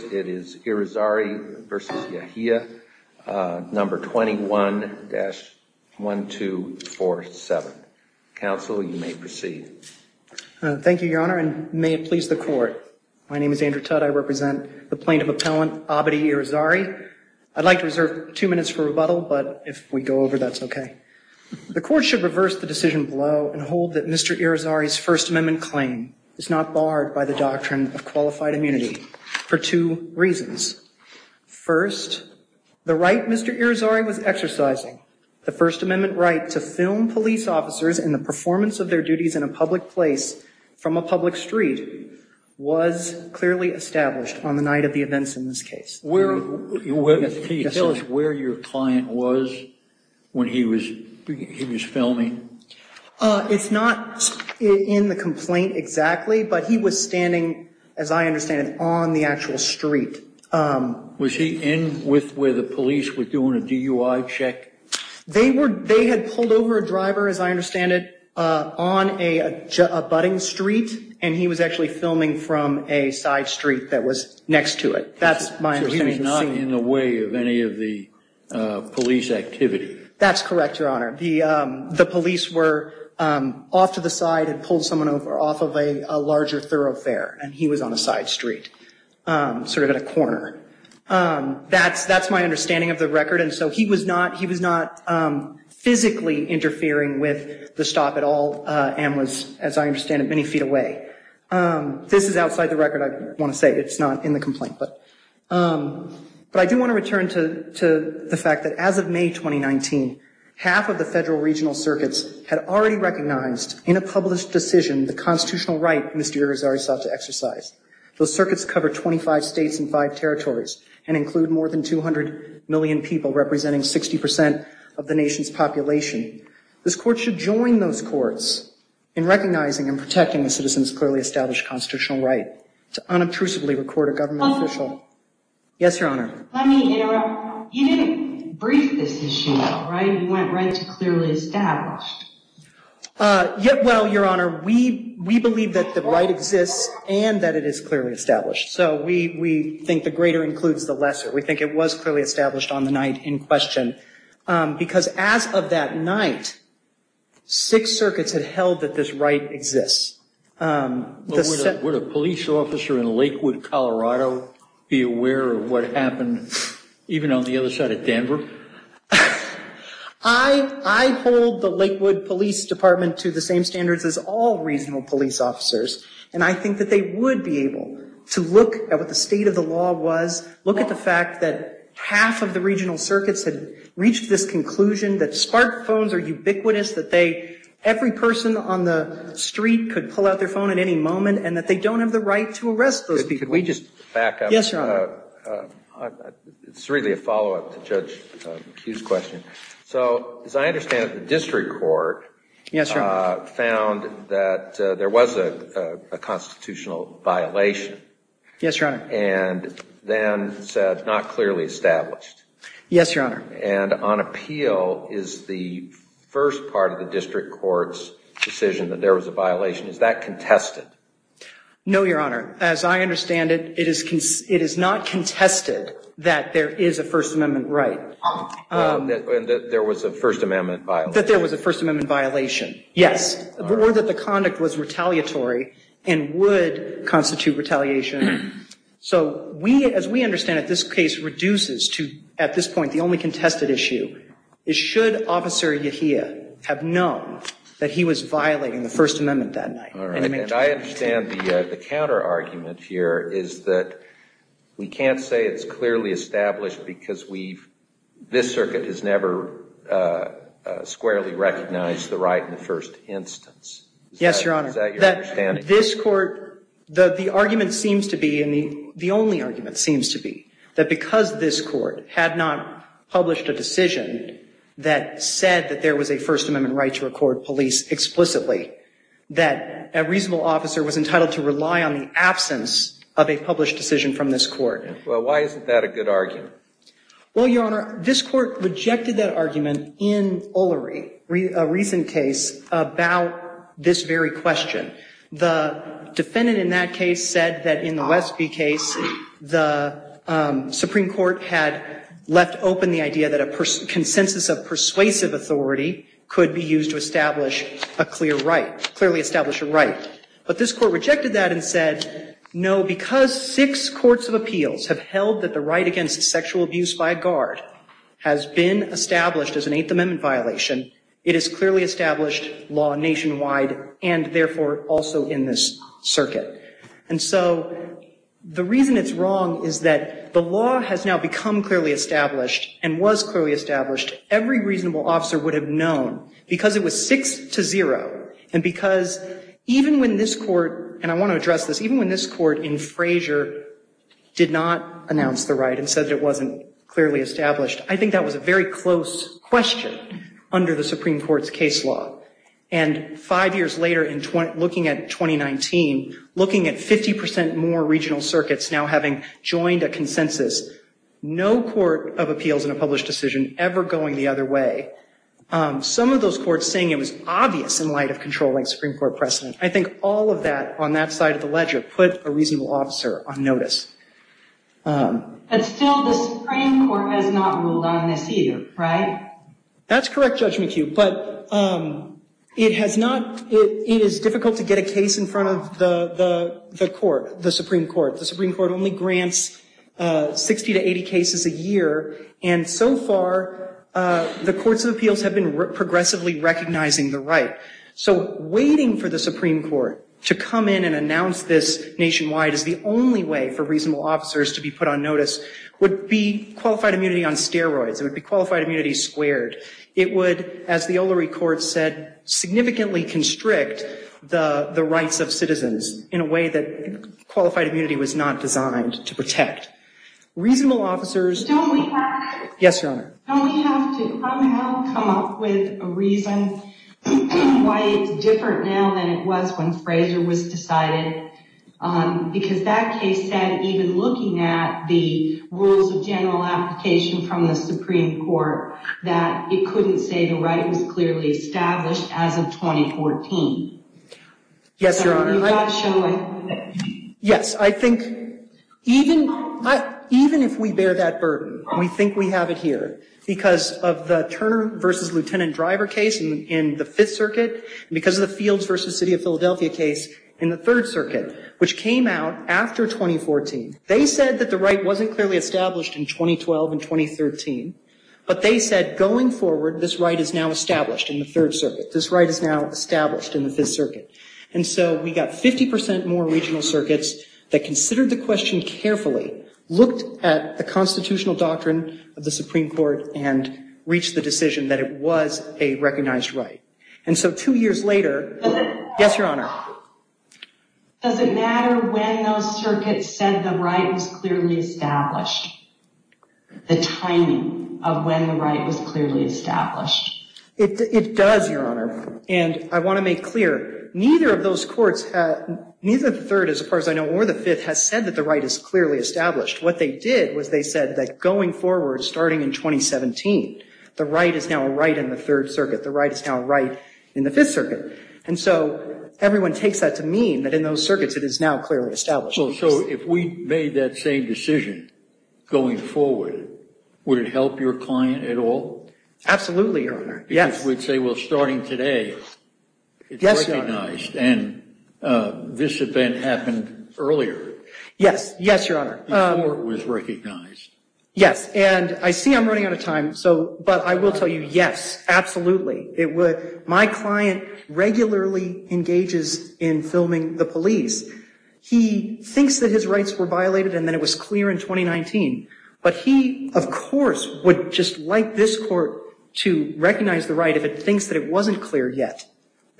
It is Irizarry v. Yehia, number 21-1247. Counsel, you may proceed. Thank you, your honor, and may it please the court. My name is Andrew Tutt. I represent the plaintiff appellant Abadi Irizarry. I'd like to reserve two minutes for rebuttal, but if we go over that's okay. The court should reverse the decision below and hold that Mr. Irizarry was not barred by the doctrine of qualified immunity for two reasons. First, the right Mr. Irizarry was exercising, the First Amendment right to film police officers and the performance of their duties in a public place from a public street, was clearly established on the night of the events in this case. Tell us where your client was when he was filming. It's not in the complaint exactly, but he was standing, as I understand it, on the actual street. Was he in with where the police were doing a DUI check? They had pulled over a driver, as I understand it, on a budding street, and he was actually filming from a side street that was next to it. That's my understanding. So he was not in the way of any of the police activity? That's correct, Your Honor. The police were off to the side and pulled someone over off of a larger thoroughfare, and he was on a side street, sort of at a corner. That's my understanding of the record, and so he was not physically interfering with the stop at all and was, as I understand it, many feet away. This is outside the record, I want to say. It's not in the complaint. But I do want to return to the fact that as of May 2019, half of the federal regional circuits had already recognized in a published decision the constitutional right Mr. Irizarry sought to exercise. Those circuits cover 25 states and five territories and include more than 200 million people, representing 60 percent of the nation's population. This court should join those courts in recognizing and protecting a citizen's clearly established constitutional right to unobtrusively record a government official. Yes, Your Honor. Let me interrupt. You didn't brief this issue, right? You went right to clearly established. Well, Your Honor, we believe that the right exists and that it is clearly established. So we think the greater includes the lesser. We think it was clearly established on the night in question because as of that night, six circuits had held that this right exists. Would a police officer in Lakewood, Colorado be aware of what happened even on the other side of Denver? I hold the Lakewood Police Department to the same standards as all regional police officers, and I think that they would be able to look at what the state of the law was, look at the fact that half of the regional circuits had reached this conclusion, that spark phones are ubiquitous, that every person on the street could pull out their phone at any moment, and that they don't have the right to arrest those people. Could we just back up? Yes, Your Honor. It's really a follow-up to Judge Kueh's question. So as I understand it, the district court found that there was a constitutional violation. Yes, Your Honor. And then said not clearly established. Yes, Your Honor. And on appeal, is the first part of the district court's decision that there was a violation, is that contested? No, Your Honor. As I understand it, it is not contested that there is a First Amendment right. And that there was a First Amendment violation? That there was a First Amendment violation, yes. Or that the conduct was retaliatory and would constitute retaliation. So we, as we understand it, this case reduces to, at this point, the only contested issue, is should Officer Yahia have known that he was violating the First Amendment that night? All right. And I understand the counter-argument here is that we can't say it's clearly established because we've, this circuit has never squarely recognized the right in the first instance. Yes, Your Honor. Is that your understanding? This court, the argument seems to be, and the only argument seems to be, that because this court had not published a decision that said that there was a First Amendment right to record police explicitly, that a reasonable officer was entitled to rely on the absence of a published decision from this court. Well, why isn't that a good argument? Well, Your Honor, this court rejected that argument in O'Leary, a recent case, about this very question. The defendant in that case said that in the Westby case, the Supreme Court had left open the idea that a consensus of persuasive authority could be used to establish a clear right, clearly establish a right. But this court rejected that and said, no, because six courts of appeals have held that the right against sexual abuse by a guard has been established as an Eighth Amendment violation, it is clearly established law nationwide and therefore also in this circuit. And so the reason it's wrong is that the law has now become clearly established and was clearly established. Every reasonable officer would have known because it was six to zero and because even when this court, and I want to address this, even when this court in Frazier did not announce the right and said it wasn't clearly established, I think that was a very close question under the Supreme Court's case law. And five years later, looking at 2019, looking at 50% more regional circuits now having joined a consensus, no court of appeals in a published decision ever going the other way. Some of those courts saying it was obvious in light of controlling Supreme Court precedent. I think all of that on that side of the ledger put a reasonable officer on notice. But still, the Supreme Court has not ruled on this either, right? That's correct, Judge McHugh, but it has not, it is difficult to get a case in front of the court, the Supreme Court. The Supreme Court only grants 60 to 80 cases a year and so far the courts of appeals have been progressively recognizing the right. So waiting for the Supreme Court to come in and announce this nationwide is the only way for reasonable officers to be put on notice would be qualified immunity on steroids. It would be qualified immunity squared. It would, as the Olary Court said, significantly constrict the rights of citizens in a way that qualified immunity was not designed to protect. Reasonable officers- Don't we have- Yes, Your Honor. Don't we have to come out, come up with a reason why it's different now than it was when Fraser was decided? Because that case said, even looking at the rules of general application from the Supreme Court, that it couldn't say the right was clearly established as of 2014. Yes, Your Honor. So we've got to show a way to prove it. Yes. I think even if we bear that burden, we think we have it here because of the Turner v. Lieutenant Driver case in the Fifth Circuit and because of the Fields v. City of Philadelphia case in the Third Circuit, which came out after 2014. They said that the right wasn't clearly established in 2012 and 2013, but they said, going forward, this right is now established in the Third Circuit. This right is now established in the Fifth Circuit. And so we got 50 percent more regional circuits that considered the question carefully, looked at the constitutional doctrine of the Supreme Court, and reached the decision that it was a recognized right. And so two years later- Does it- Yes, Your Honor. Does it matter when those circuits said the right was clearly established, the timing of when the right was clearly established? It does, Your Honor. And I want to make clear, neither of those courts, neither the Third, as far as I know, nor the Fifth, has said that the right is clearly established. What they did was they said that going forward, starting in 2017, the right is now a right in the Third Circuit. The right is now a right in the Fifth Circuit. And so everyone takes that to mean that in those circuits it is now clearly established. Well, so if we made that same decision going forward, would it help your client at all? Absolutely, Your Honor. Yes. I would say, well, starting today, it's recognized, and this event happened earlier. Yes. Yes, Your Honor. It was recognized. Yes. And I see I'm running out of time, but I will tell you, yes, absolutely. My client regularly engages in filming the police. He thinks that his rights were violated and that it was clear in 2019. But he, of course, would just like this court to recognize the right if it thinks that it wasn't clear yet,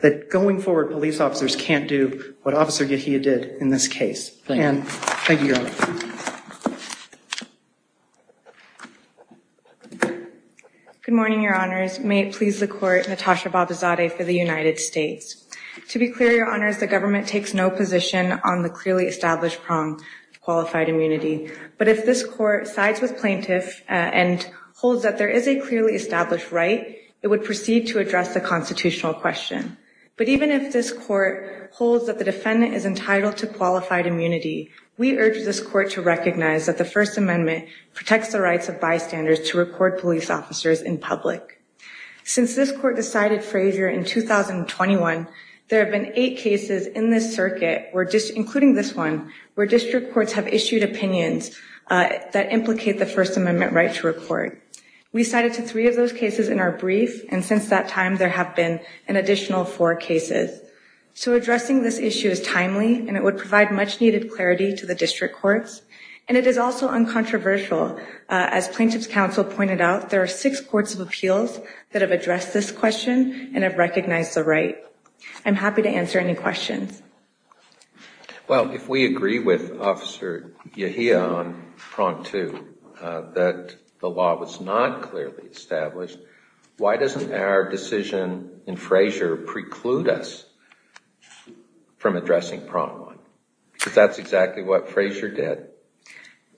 that going forward, police officers can't do what Officer Gehia did in this case. Thank you, Your Honor. Good morning, Your Honors. May it please the Court, Natasha Babazadeh for the United States. To be clear, Your Honors, the government takes no position on the clearly established prong of qualified immunity. But if this court sides with plaintiffs and holds that there is a clearly established right, it would proceed to address the constitutional question. But even if this court holds that the defendant is entitled to qualified immunity, we urge this court to recognize that the First Amendment protects the rights of bystanders to record police officers in public. Since this court decided Frazier in 2021, there have been eight cases in this circuit, including this one, where district courts have issued opinions that implicate the First Amendment right to record. We cited to three of those cases in our brief. And since that time, there have been an additional four cases. So addressing this issue is timely and it would provide much needed clarity to the district courts. And it is also uncontroversial. As Plaintiffs' Counsel pointed out, there are six courts of appeals that have addressed this question and have recognized the right. I'm happy to answer any questions. Well, if we agree with Officer Yahia on prong two, that the law was not clearly established, why doesn't our decision in Frazier preclude us from addressing prong one? Because that's exactly what Frazier did.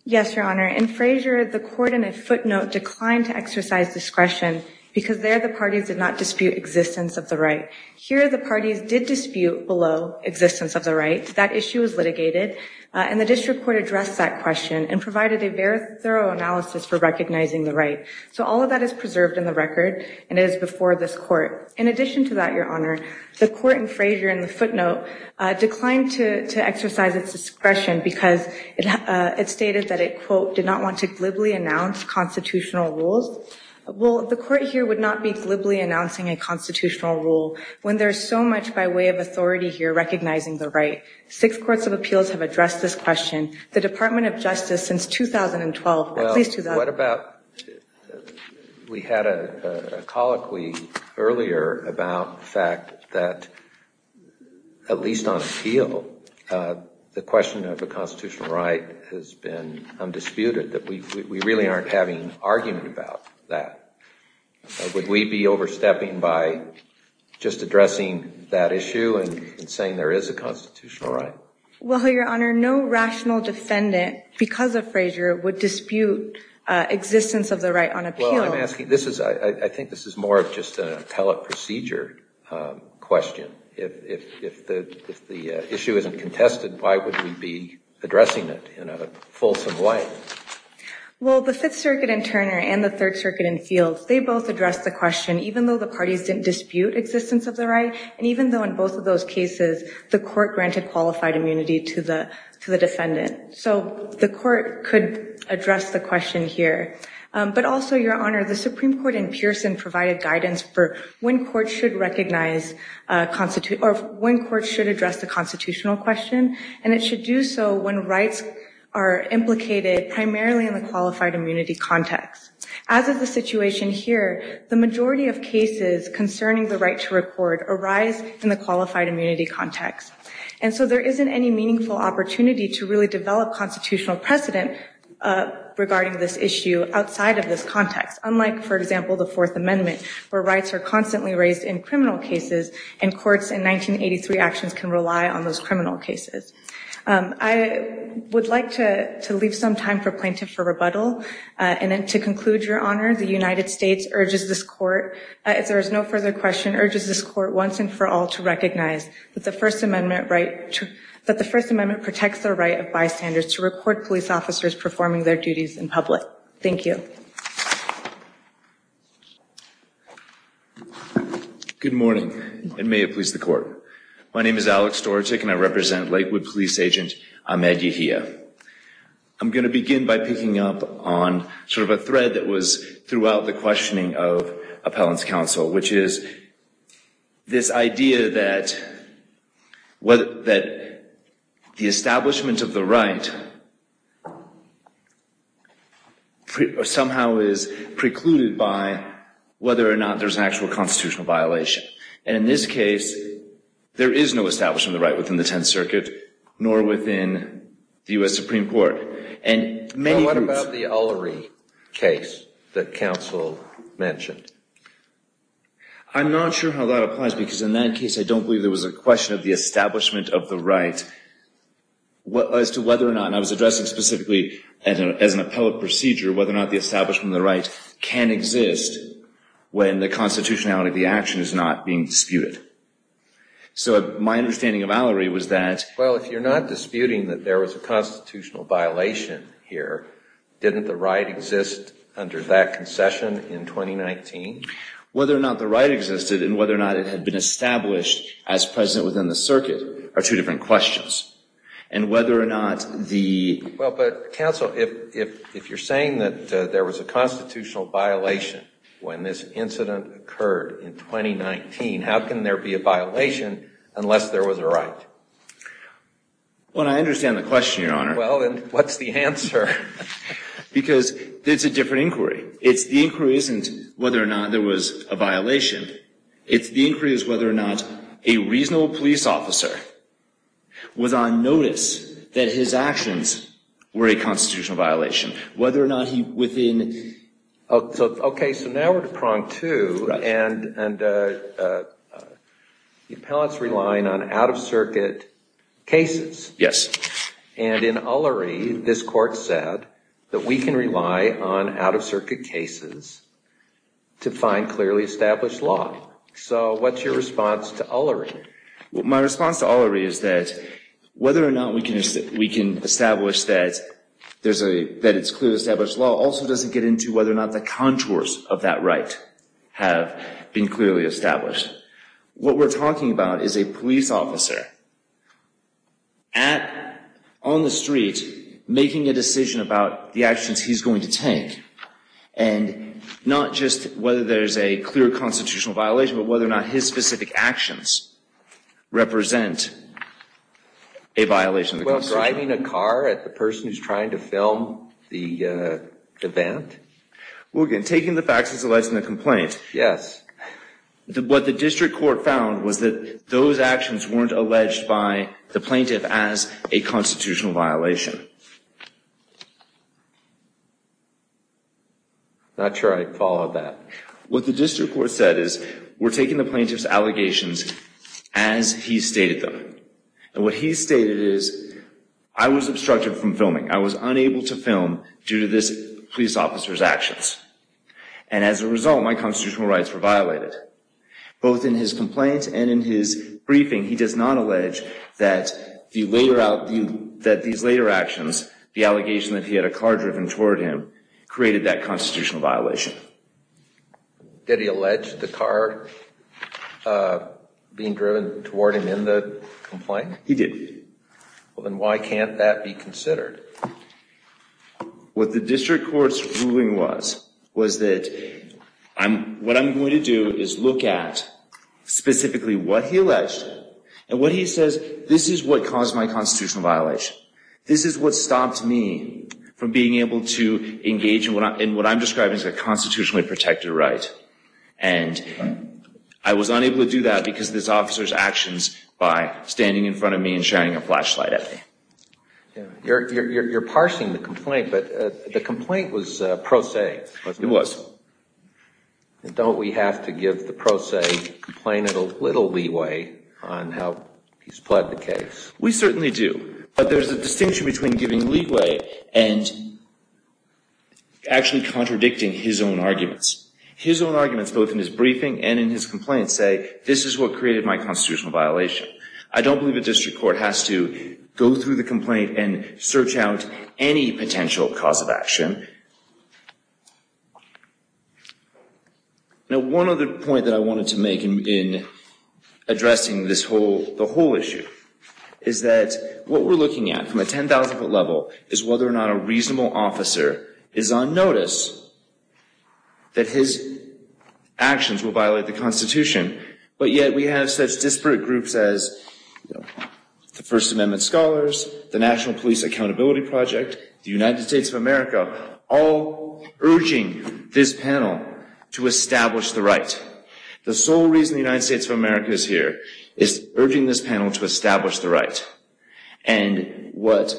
Yes, Your Honor. In Frazier, the court in a footnote declined to exercise discretion because there the parties did not dispute existence of the right. Here, the parties did dispute below existence of the right. That issue was litigated and the district court addressed that question and provided a very thorough analysis for recognizing the right. So all of that is preserved in the record and is before this court. In addition to that, Your Honor, the court in Frazier, in the footnote, declined to exercise its discretion because it stated that it, quote, did not want to glibly announce constitutional rules. Well, the court here would not be glibly announcing a constitutional rule when there is so much by way of authority here recognizing the right. Six courts of appeals have addressed this question. The Department of Justice, since 2012, at least 2012. We had a colloquy earlier about the fact that at least on appeal, the question of a constitutional right has been undisputed, that we really aren't having an argument about that. Would we be overstepping by just addressing that issue and saying there is a constitutional right? Well, Your Honor, no rational defendant, because of Frazier, would dispute existence of the right on appeal. Well, I'm asking, this is, I think this is more of just an appellate procedure question. If the issue isn't contested, why would we be addressing it in a fulsome way? Well, the Fifth Circuit in Turner and the Third Circuit in Fields, they both addressed the question, even though the parties didn't dispute existence of the right. And even though in both of those cases, the court granted qualified immunity to the defendant. So the court could address the question here. But also, Your Honor, the Supreme Court in Pearson provided guidance for when courts should recognize, or when courts should address the constitutional question. And it should do so when rights are implicated primarily in the qualified immunity context. As of the situation here, the majority of cases concerning the right to record arise in the qualified immunity context. And so there isn't any meaningful opportunity to really develop constitutional precedent regarding this issue outside of this context. Unlike, for example, the Fourth Amendment, where rights are constantly raised in criminal cases and courts in 1983 actions can rely on those criminal cases. I would like to leave some time for plaintiff for rebuttal. And then to conclude, Your Honor, the United States urges this court, if there is no further question, urges this court once and for all to recognize that the First Amendment protects the right of bystanders to report police officers performing their duties in public. Thank you. My name is Alex Dorotik and I represent Lakewood Police Agent Ahmed Yehia. I'm going to begin by picking up on sort of a thread that was throughout the questioning of appellant's counsel, which is this idea that the establishment of the right somehow is precluded by whether or not there's an actual constitutional violation. And in this case, there is no establishment of the right within the Tenth Circuit, nor within the U.S. Supreme Court. And what about the Ulrey case that counsel mentioned? I'm not sure how that applies because in that case, I don't believe there was a question of the establishment of the right as to whether or not, and I was addressing specifically as an appellate procedure, whether or not the establishment of the right can exist when the constitutionality of the action is not being disputed. So my understanding of Valerie was that... Well, if you're not disputing that there was a constitutional violation here, didn't the right exist under that concession in 2019? Whether or not the right existed and whether or not it had been established as present within the circuit are two different questions. And whether or not the... Well, but counsel, if you're saying that there was a constitutional violation when this incident occurred in 2019, how can there be a violation unless there was a right? Well, I understand the question, Your Honor. Well, then what's the answer? Because it's a different inquiry. It's the inquiry isn't whether or not there was a violation. It's the inquiry is whether or not a reasonable police officer was on notice that his actions were a constitutional violation. Whether or not he, within... Okay, so now we're to prong two, and the appellate's relying on out-of-circuit cases. Yes. And in Ullary, this court said that we can rely on out-of-circuit cases to find clearly established law. So what's your response to Ullary? Well, my response to Ullary is that whether or not we can establish that it's clearly established law also doesn't get into whether or not the contours of that right have been clearly established. What we're talking about is a police officer on the street making a decision about the actions he's going to take. And not just whether there's a clear constitutional violation, but whether or not his specific actions represent a violation of the Constitution. Well, driving a car at the person who's trying to film the event? Well, again, taking the facts as it lies in the complaint. Yes. What the district court found was that those actions weren't alleged by the plaintiff as a constitutional violation. Not sure I followed that. What the district court said is, we're taking the plaintiff's allegations as he stated them. And what he stated is, I was obstructed from filming. I was unable to film due to this police officer's actions. And as a result, my constitutional rights were violated. Both in his complaint and in his briefing, he does not allege that these later actions, the allegation that he had a car driven toward him, created that constitutional violation. Did he allege the car being driven toward him in the complaint? He did. Well, then why can't that be considered? What the district court's ruling was, was that what I'm going to do is look at specifically what he alleged. And what he says, this is what caused my constitutional violation. This is what stopped me from being able to engage in what I'm describing as a constitutionally protected right. And I was unable to do that because of this officer's actions by standing in front of me and sharing a flashlight at me. You're parsing the complaint, but the complaint was pro se. It was. Don't we have to give the pro se complainant a little leeway on how he supplied the case? We certainly do. But there's a distinction between giving leeway and actually contradicting his own arguments. His own arguments both in his briefing and in his complaint say, this is what created my constitutional violation. I don't believe a district court has to go through the complaint and search out any potential cause of action. Now, one other point that I wanted to make in addressing this whole, the whole issue, is that what we're looking at from a 10,000-foot level is whether or not a reasonable officer is on notice that his actions will violate the Constitution. But yet we have such disparate groups as the First Amendment Scholars, the National Police Accountability Project, the United States of America, all urging this panel to establish the right. The sole reason the United States of America is here is urging this panel to establish the right. And what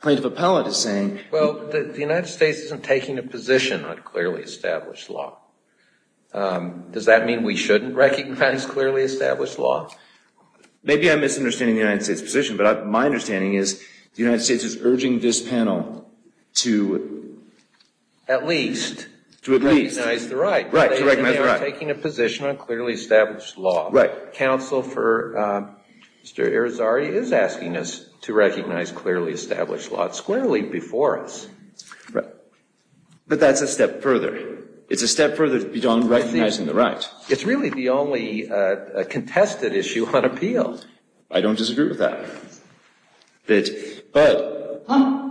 Plaintiff Appellate is saying... Well, the United States isn't taking a position on clearly established law. Does that mean we shouldn't recognize clearly established law? Maybe I'm misunderstanding the United States' position, but my understanding is the United States is urging this panel to... At least... To at least... Recognize the right. Right, to recognize the right. They are taking a position on clearly established law. Right. Counsel for Mr. Irizarry is asking us to recognize clearly established law. It's clearly before us. Right. But that's a step further. It's a step further than recognizing the right. It's really the only contested issue on appeal. I don't disagree with that. But...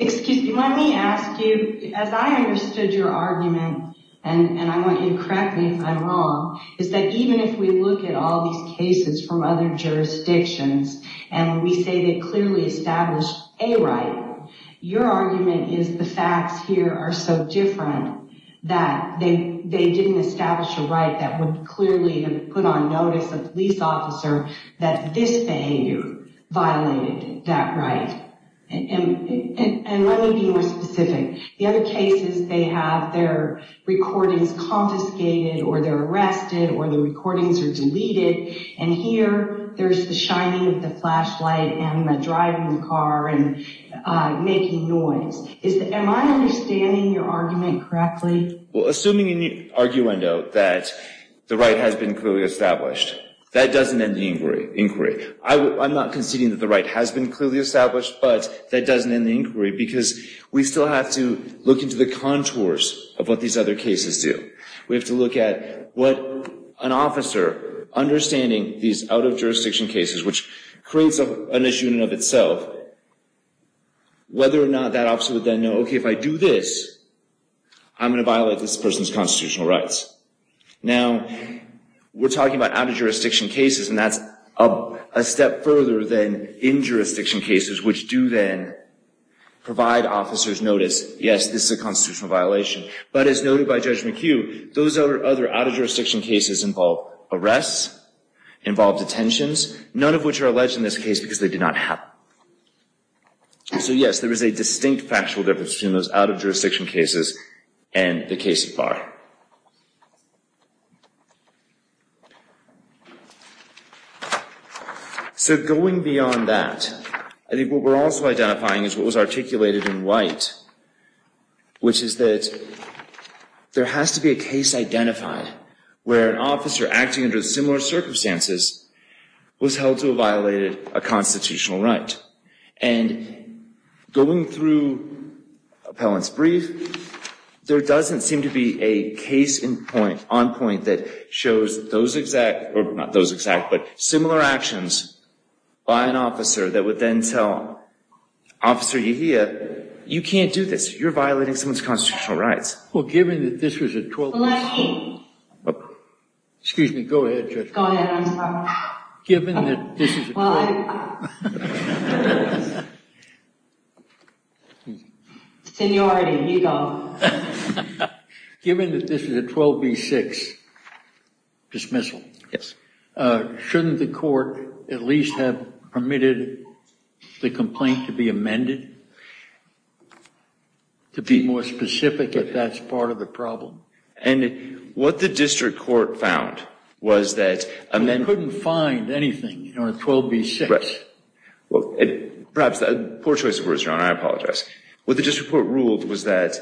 Excuse me. Let me ask you, as I understood your argument, and I want you to correct me if I'm wrong, is that even if we look at all these cases from other jurisdictions and we say they clearly established a right, your argument is the facts here are so different that they didn't establish a right that would clearly have put on notice a police officer that this behavior violated that right. And let me be more specific. The other cases, they have their recordings confiscated or they're arrested or the recordings are deleted, and here there's the shining of the flashlight and the driving the car and making noise. Am I understanding your argument correctly? Well, assuming in the arguendo that the right has been clearly established, that doesn't end the inquiry. I'm not conceding that the right has been clearly established, but that doesn't end the inquiry, because we still have to look into the contours of what these other cases do. We have to look at what an officer, understanding these out-of-jurisdiction cases, which creates an issue in and of itself, whether or not that officer would then know, okay, if I do this, I'm going to violate this person's constitutional rights. Now, we're talking about out-of-jurisdiction cases, and that's a step further than in-jurisdiction cases, which do then provide officers notice, yes, this is a constitutional violation. But as noted by Judge McHugh, those other out-of-jurisdiction cases involve arrests, involve detentions, none of which are alleged in this case because they did not happen. So, yes, there is a distinct factual difference between those out-of-jurisdiction cases and the case of Barr. So, going beyond that, I think what we're also identifying is what was articulated in White, which is that there has to be a case identified where an officer acting under similar circumstances was held to have violated a constitutional right. And going through Appellant's brief, there doesn't seem to be a case identified on point that shows those exact, or not those exact, but similar actions by an officer that would then tell Officer Yehia, you can't do this. You're violating someone's constitutional rights. Well, given that this was a 12-year-old... Well, let me. Excuse me. Go ahead, Judge. Go ahead. I'm sorry. Given that this was a 12-year-old... Well, I... Seniority. You go. Given that this is a 12-B-6 dismissal, shouldn't the court at least have permitted the complaint to be amended to be more specific if that's part of the problem? And what the district court found was that... They couldn't find anything on a 12-B-6. Perhaps, poor choice of words, Your Honor. I apologize. What the district court ruled was that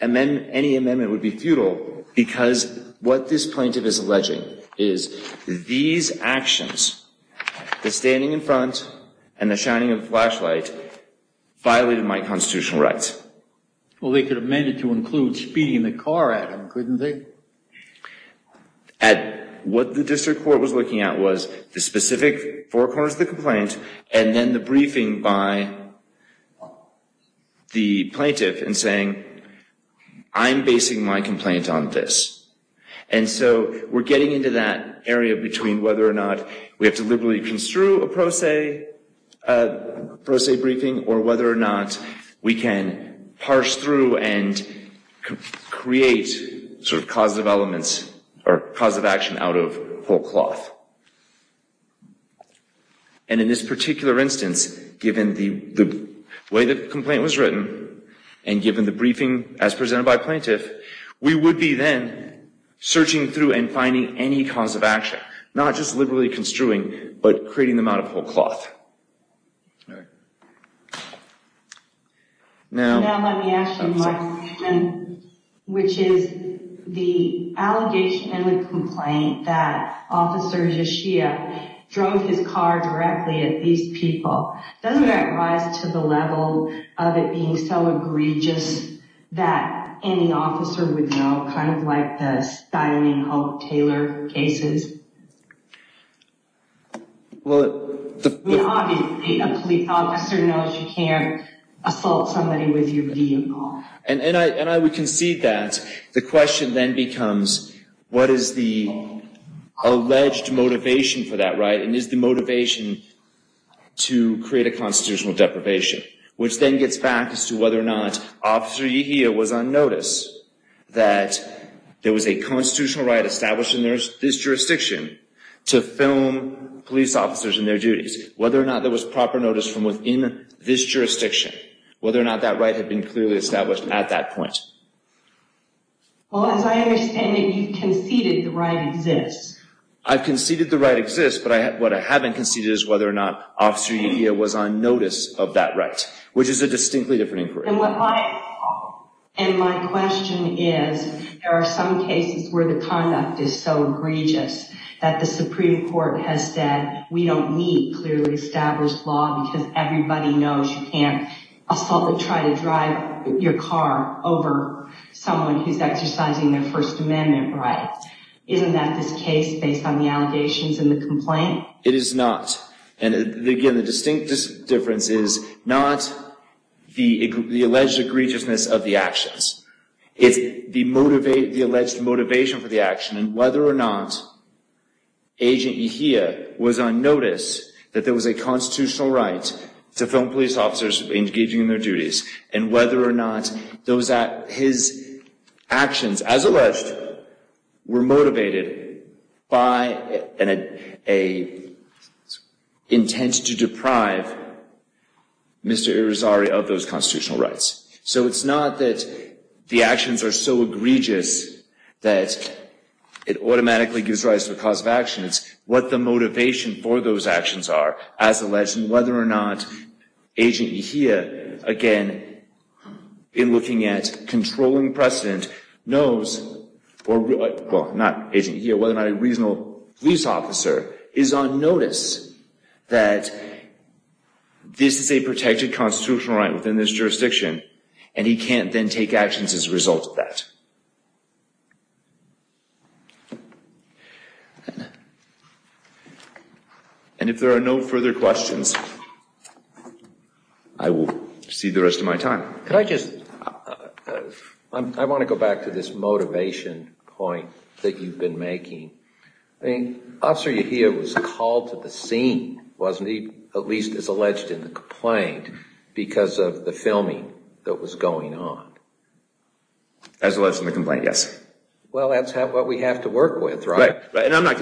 any amendment would be futile because what this plaintiff is alleging is these actions, the standing in front and the shining of the flashlight, violated my constitutional rights. Well, they could have meant it to include speeding the car at him, couldn't they? Ed, what the district court was looking at was the specific four corners of the complaint and then the briefing by the plaintiff in saying, I'm basing my complaint on this. And so we're getting into that area between whether or not we have to liberally construe a pro se briefing or whether or not we can parse through and create sort of causative elements or causative action out of whole cloth. And in this particular instance, given the way the complaint was written and given the briefing as presented by plaintiff, we would be then searching through and finding any cause of action, not just liberally construing, but creating them out of whole cloth. All right. Now let me ask you my question, which is the allegation in the complaint that Officer Yeshia drove his car directly at these people. Doesn't that rise to the level of it being so egregious that any officer would know, kind of like the styling of Taylor cases? Obviously, a police officer knows you can't assault somebody with your vehicle. And I would concede that the question then becomes what is the alleged motivation for that right and is the motivation to create a constitutional deprivation, which then gets back as to whether or not Officer Yeshia was on notice that there was a constitutional right established in this jurisdiction to film police officers in their duties, whether or not there was proper notice from within this jurisdiction, whether or not that right had been clearly established at that point. Well, as I understand it, you conceded the right exists. I conceded the right exists, but what I haven't conceded is whether or not Officer Yeshia was on notice of that right, which is a distinctly different inquiry. And my question is, there are some cases where the conduct is so egregious that the Supreme Court has said we don't need clearly established law because everybody knows you can't assault or try to drive your car over someone who's exercising their First Amendment rights. Isn't that this case based on the allegations and the complaint? It is not. And again, the distinct difference is not the alleged egregiousness of the actions. It's the alleged motivation for the action and whether or not Agent Yeshia was on notice that there was a constitutional right to film police officers engaging in their duties and whether or not his actions, as alleged, were motivated by an intent to deprive Mr. Irizarry of those constitutional rights. So it's not that the actions are so egregious that it automatically gives rise to a cause of action. It's what the motivation for those actions are as alleged and whether or not Agent Yeshia, again, in looking at controlling precedent, knows whether or not a reasonable police officer is on notice that this is a protected constitutional right within this jurisdiction and he can't then take actions as a result of that. And if there are no further questions, I will cede the rest of my time. Could I just, I want to go back to this motivation point that you've been making. I mean, Officer Yeshia was called to the scene, wasn't he? At least as alleged in the complaint because of the filming that was going on. As alleged in the complaint, yes. Well, that's what we have to work with, right? Right. And I'm not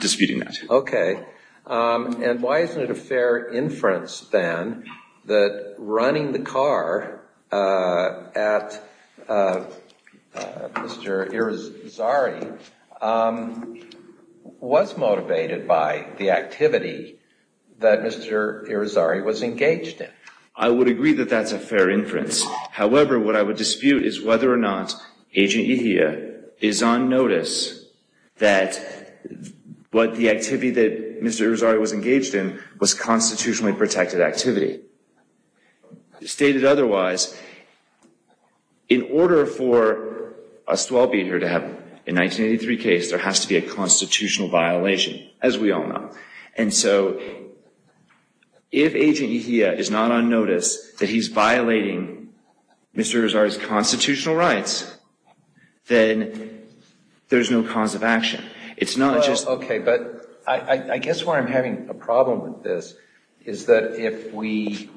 disputing that. Okay. And why isn't it a fair inference, then, that running the car at Mr. Irizarry was motivated by the activity that Mr. Irizarry was engaged in? I would agree that that's a fair inference. However, what I would dispute is whether or not Agent Yeshia is on notice that what the activity that Mr. Irizarry was engaged in was constitutionally protected activity. Stated otherwise, in order for us to all be here to have a 1983 case, there has to be a constitutional violation, as we all know. And so, if Agent Yeshia is not on notice that he's violating Mr. Irizarry's constitutional rights, then there's no cause of action. It's not just… Okay, but I guess where I'm having a problem with this is that if we…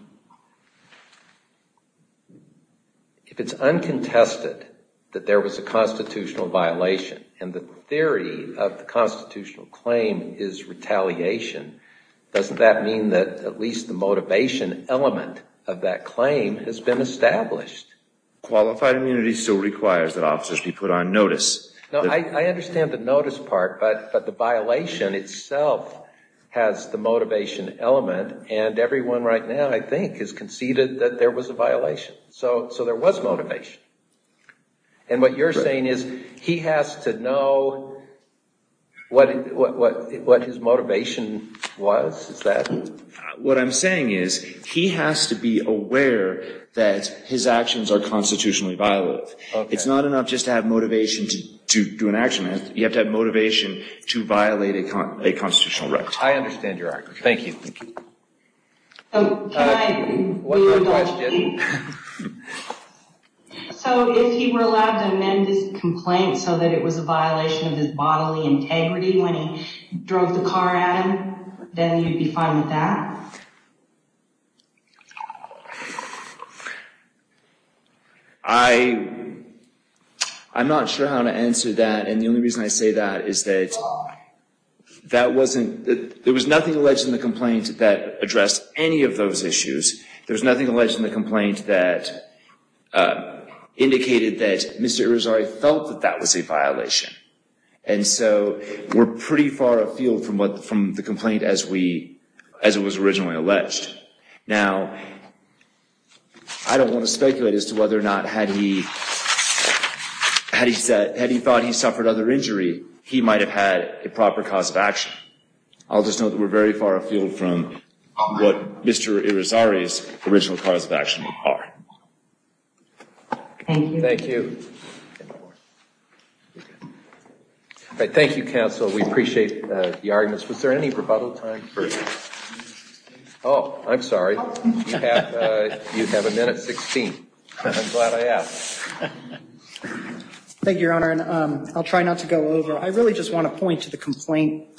If it's uncontested that there was a constitutional violation and the theory of the constitutional claim is retaliation, doesn't that mean that at least the motivation element of that claim has been established? Qualified immunity still requires that officers be put on notice. No, I understand the notice part, but the violation itself has the motivation element, and everyone right now, I think, has conceded that there was a violation. So there was motivation. And what you're saying is he has to know what his motivation was? Is that… What I'm saying is he has to be aware that his actions are constitutionally violated. It's not enough just to have motivation to do an action. You have to have motivation to violate a constitutional right. I understand your argument. Thank you. One more question. So if he were allowed to amend his complaint so that it was a violation of his bodily integrity when he drove the car at him, then he'd be fine with that? I'm not sure how to answer that. And the only reason I say that is that there was nothing alleged in the complaint that addressed any of those issues. There was nothing alleged in the complaint that indicated that Mr. Irizarry felt that that was a violation. And so we're pretty far afield from the complaint as it was originally alleged. Now, I don't want to speculate as to whether or not had he thought he suffered other injury, he might have had a proper cause of action. I'll just note that we're very far afield from what Mr. Irizarry's original cause of action are. Thank you. Thank you. Thank you, counsel. We appreciate the arguments. Was there any rebuttal time for this? Oh, I'm sorry. You have a minute 16. I'm glad I asked. Thank you, Your Honor. And I'll try not to go over. I really just want to point to the complaint,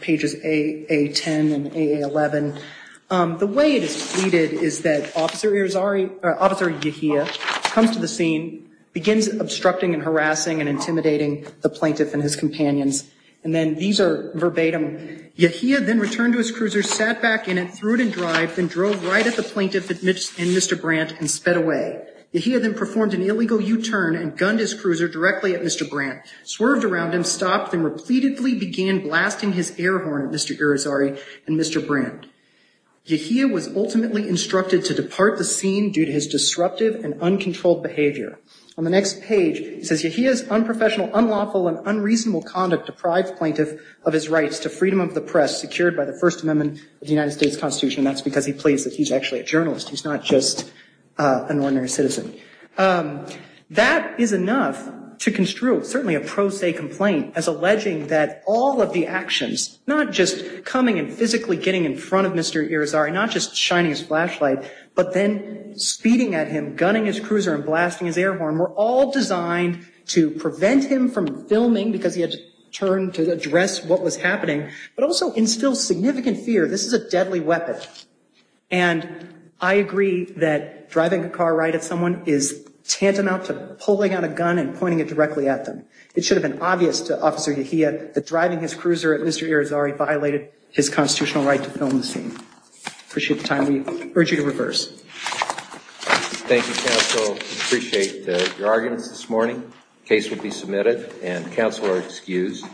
pages A10 and A11. The way it is pleaded is that Officer Irizarry, Officer Yahia comes to the scene, begins obstructing and harassing and intimidating the plaintiff and his companions. And then these are verbatim. Yahia then returned to his cruiser, sat back in it, threw it in drive, then drove right at the plaintiff and Mr. Brandt and sped away. Yahia then performed an illegal U-turn and gunned his cruiser directly at Mr. Brandt, swerved around him, stopped, then repeatedly began blasting his air horn at Mr. Irizarry and Mr. Brandt. Yahia was ultimately instructed to depart the scene due to his disruptive and uncontrolled behavior. On the next page, it says, Yahia's unprofessional, unlawful, and unreasonable conduct deprived the plaintiff of his rights to freedom of the press secured by the First Amendment of the United States Constitution. And that's because he pleads that he's actually a journalist. He's not just an ordinary citizen. That is enough to construe certainly a pro se complaint as alleging that all of the actions, not just coming and physically getting in front of Mr. Irizarry, not just shining his flashlight, but then speeding at him, gunning his cruiser and blasting his air horn, were all designed to prevent him from filming because he had to turn to address what was happening, but also instill significant fear. This is a deadly weapon. And I agree that driving a car right at someone is tantamount to pulling out a gun and pointing it directly at them. It should have been obvious to Officer Yahia that driving his cruiser at Mr. Irizarry violated his constitutional right to film the scene. I appreciate the time. We urge you to reverse. Thank you, counsel. We appreciate your arguments this morning. The case will be submitted and counsel are excused.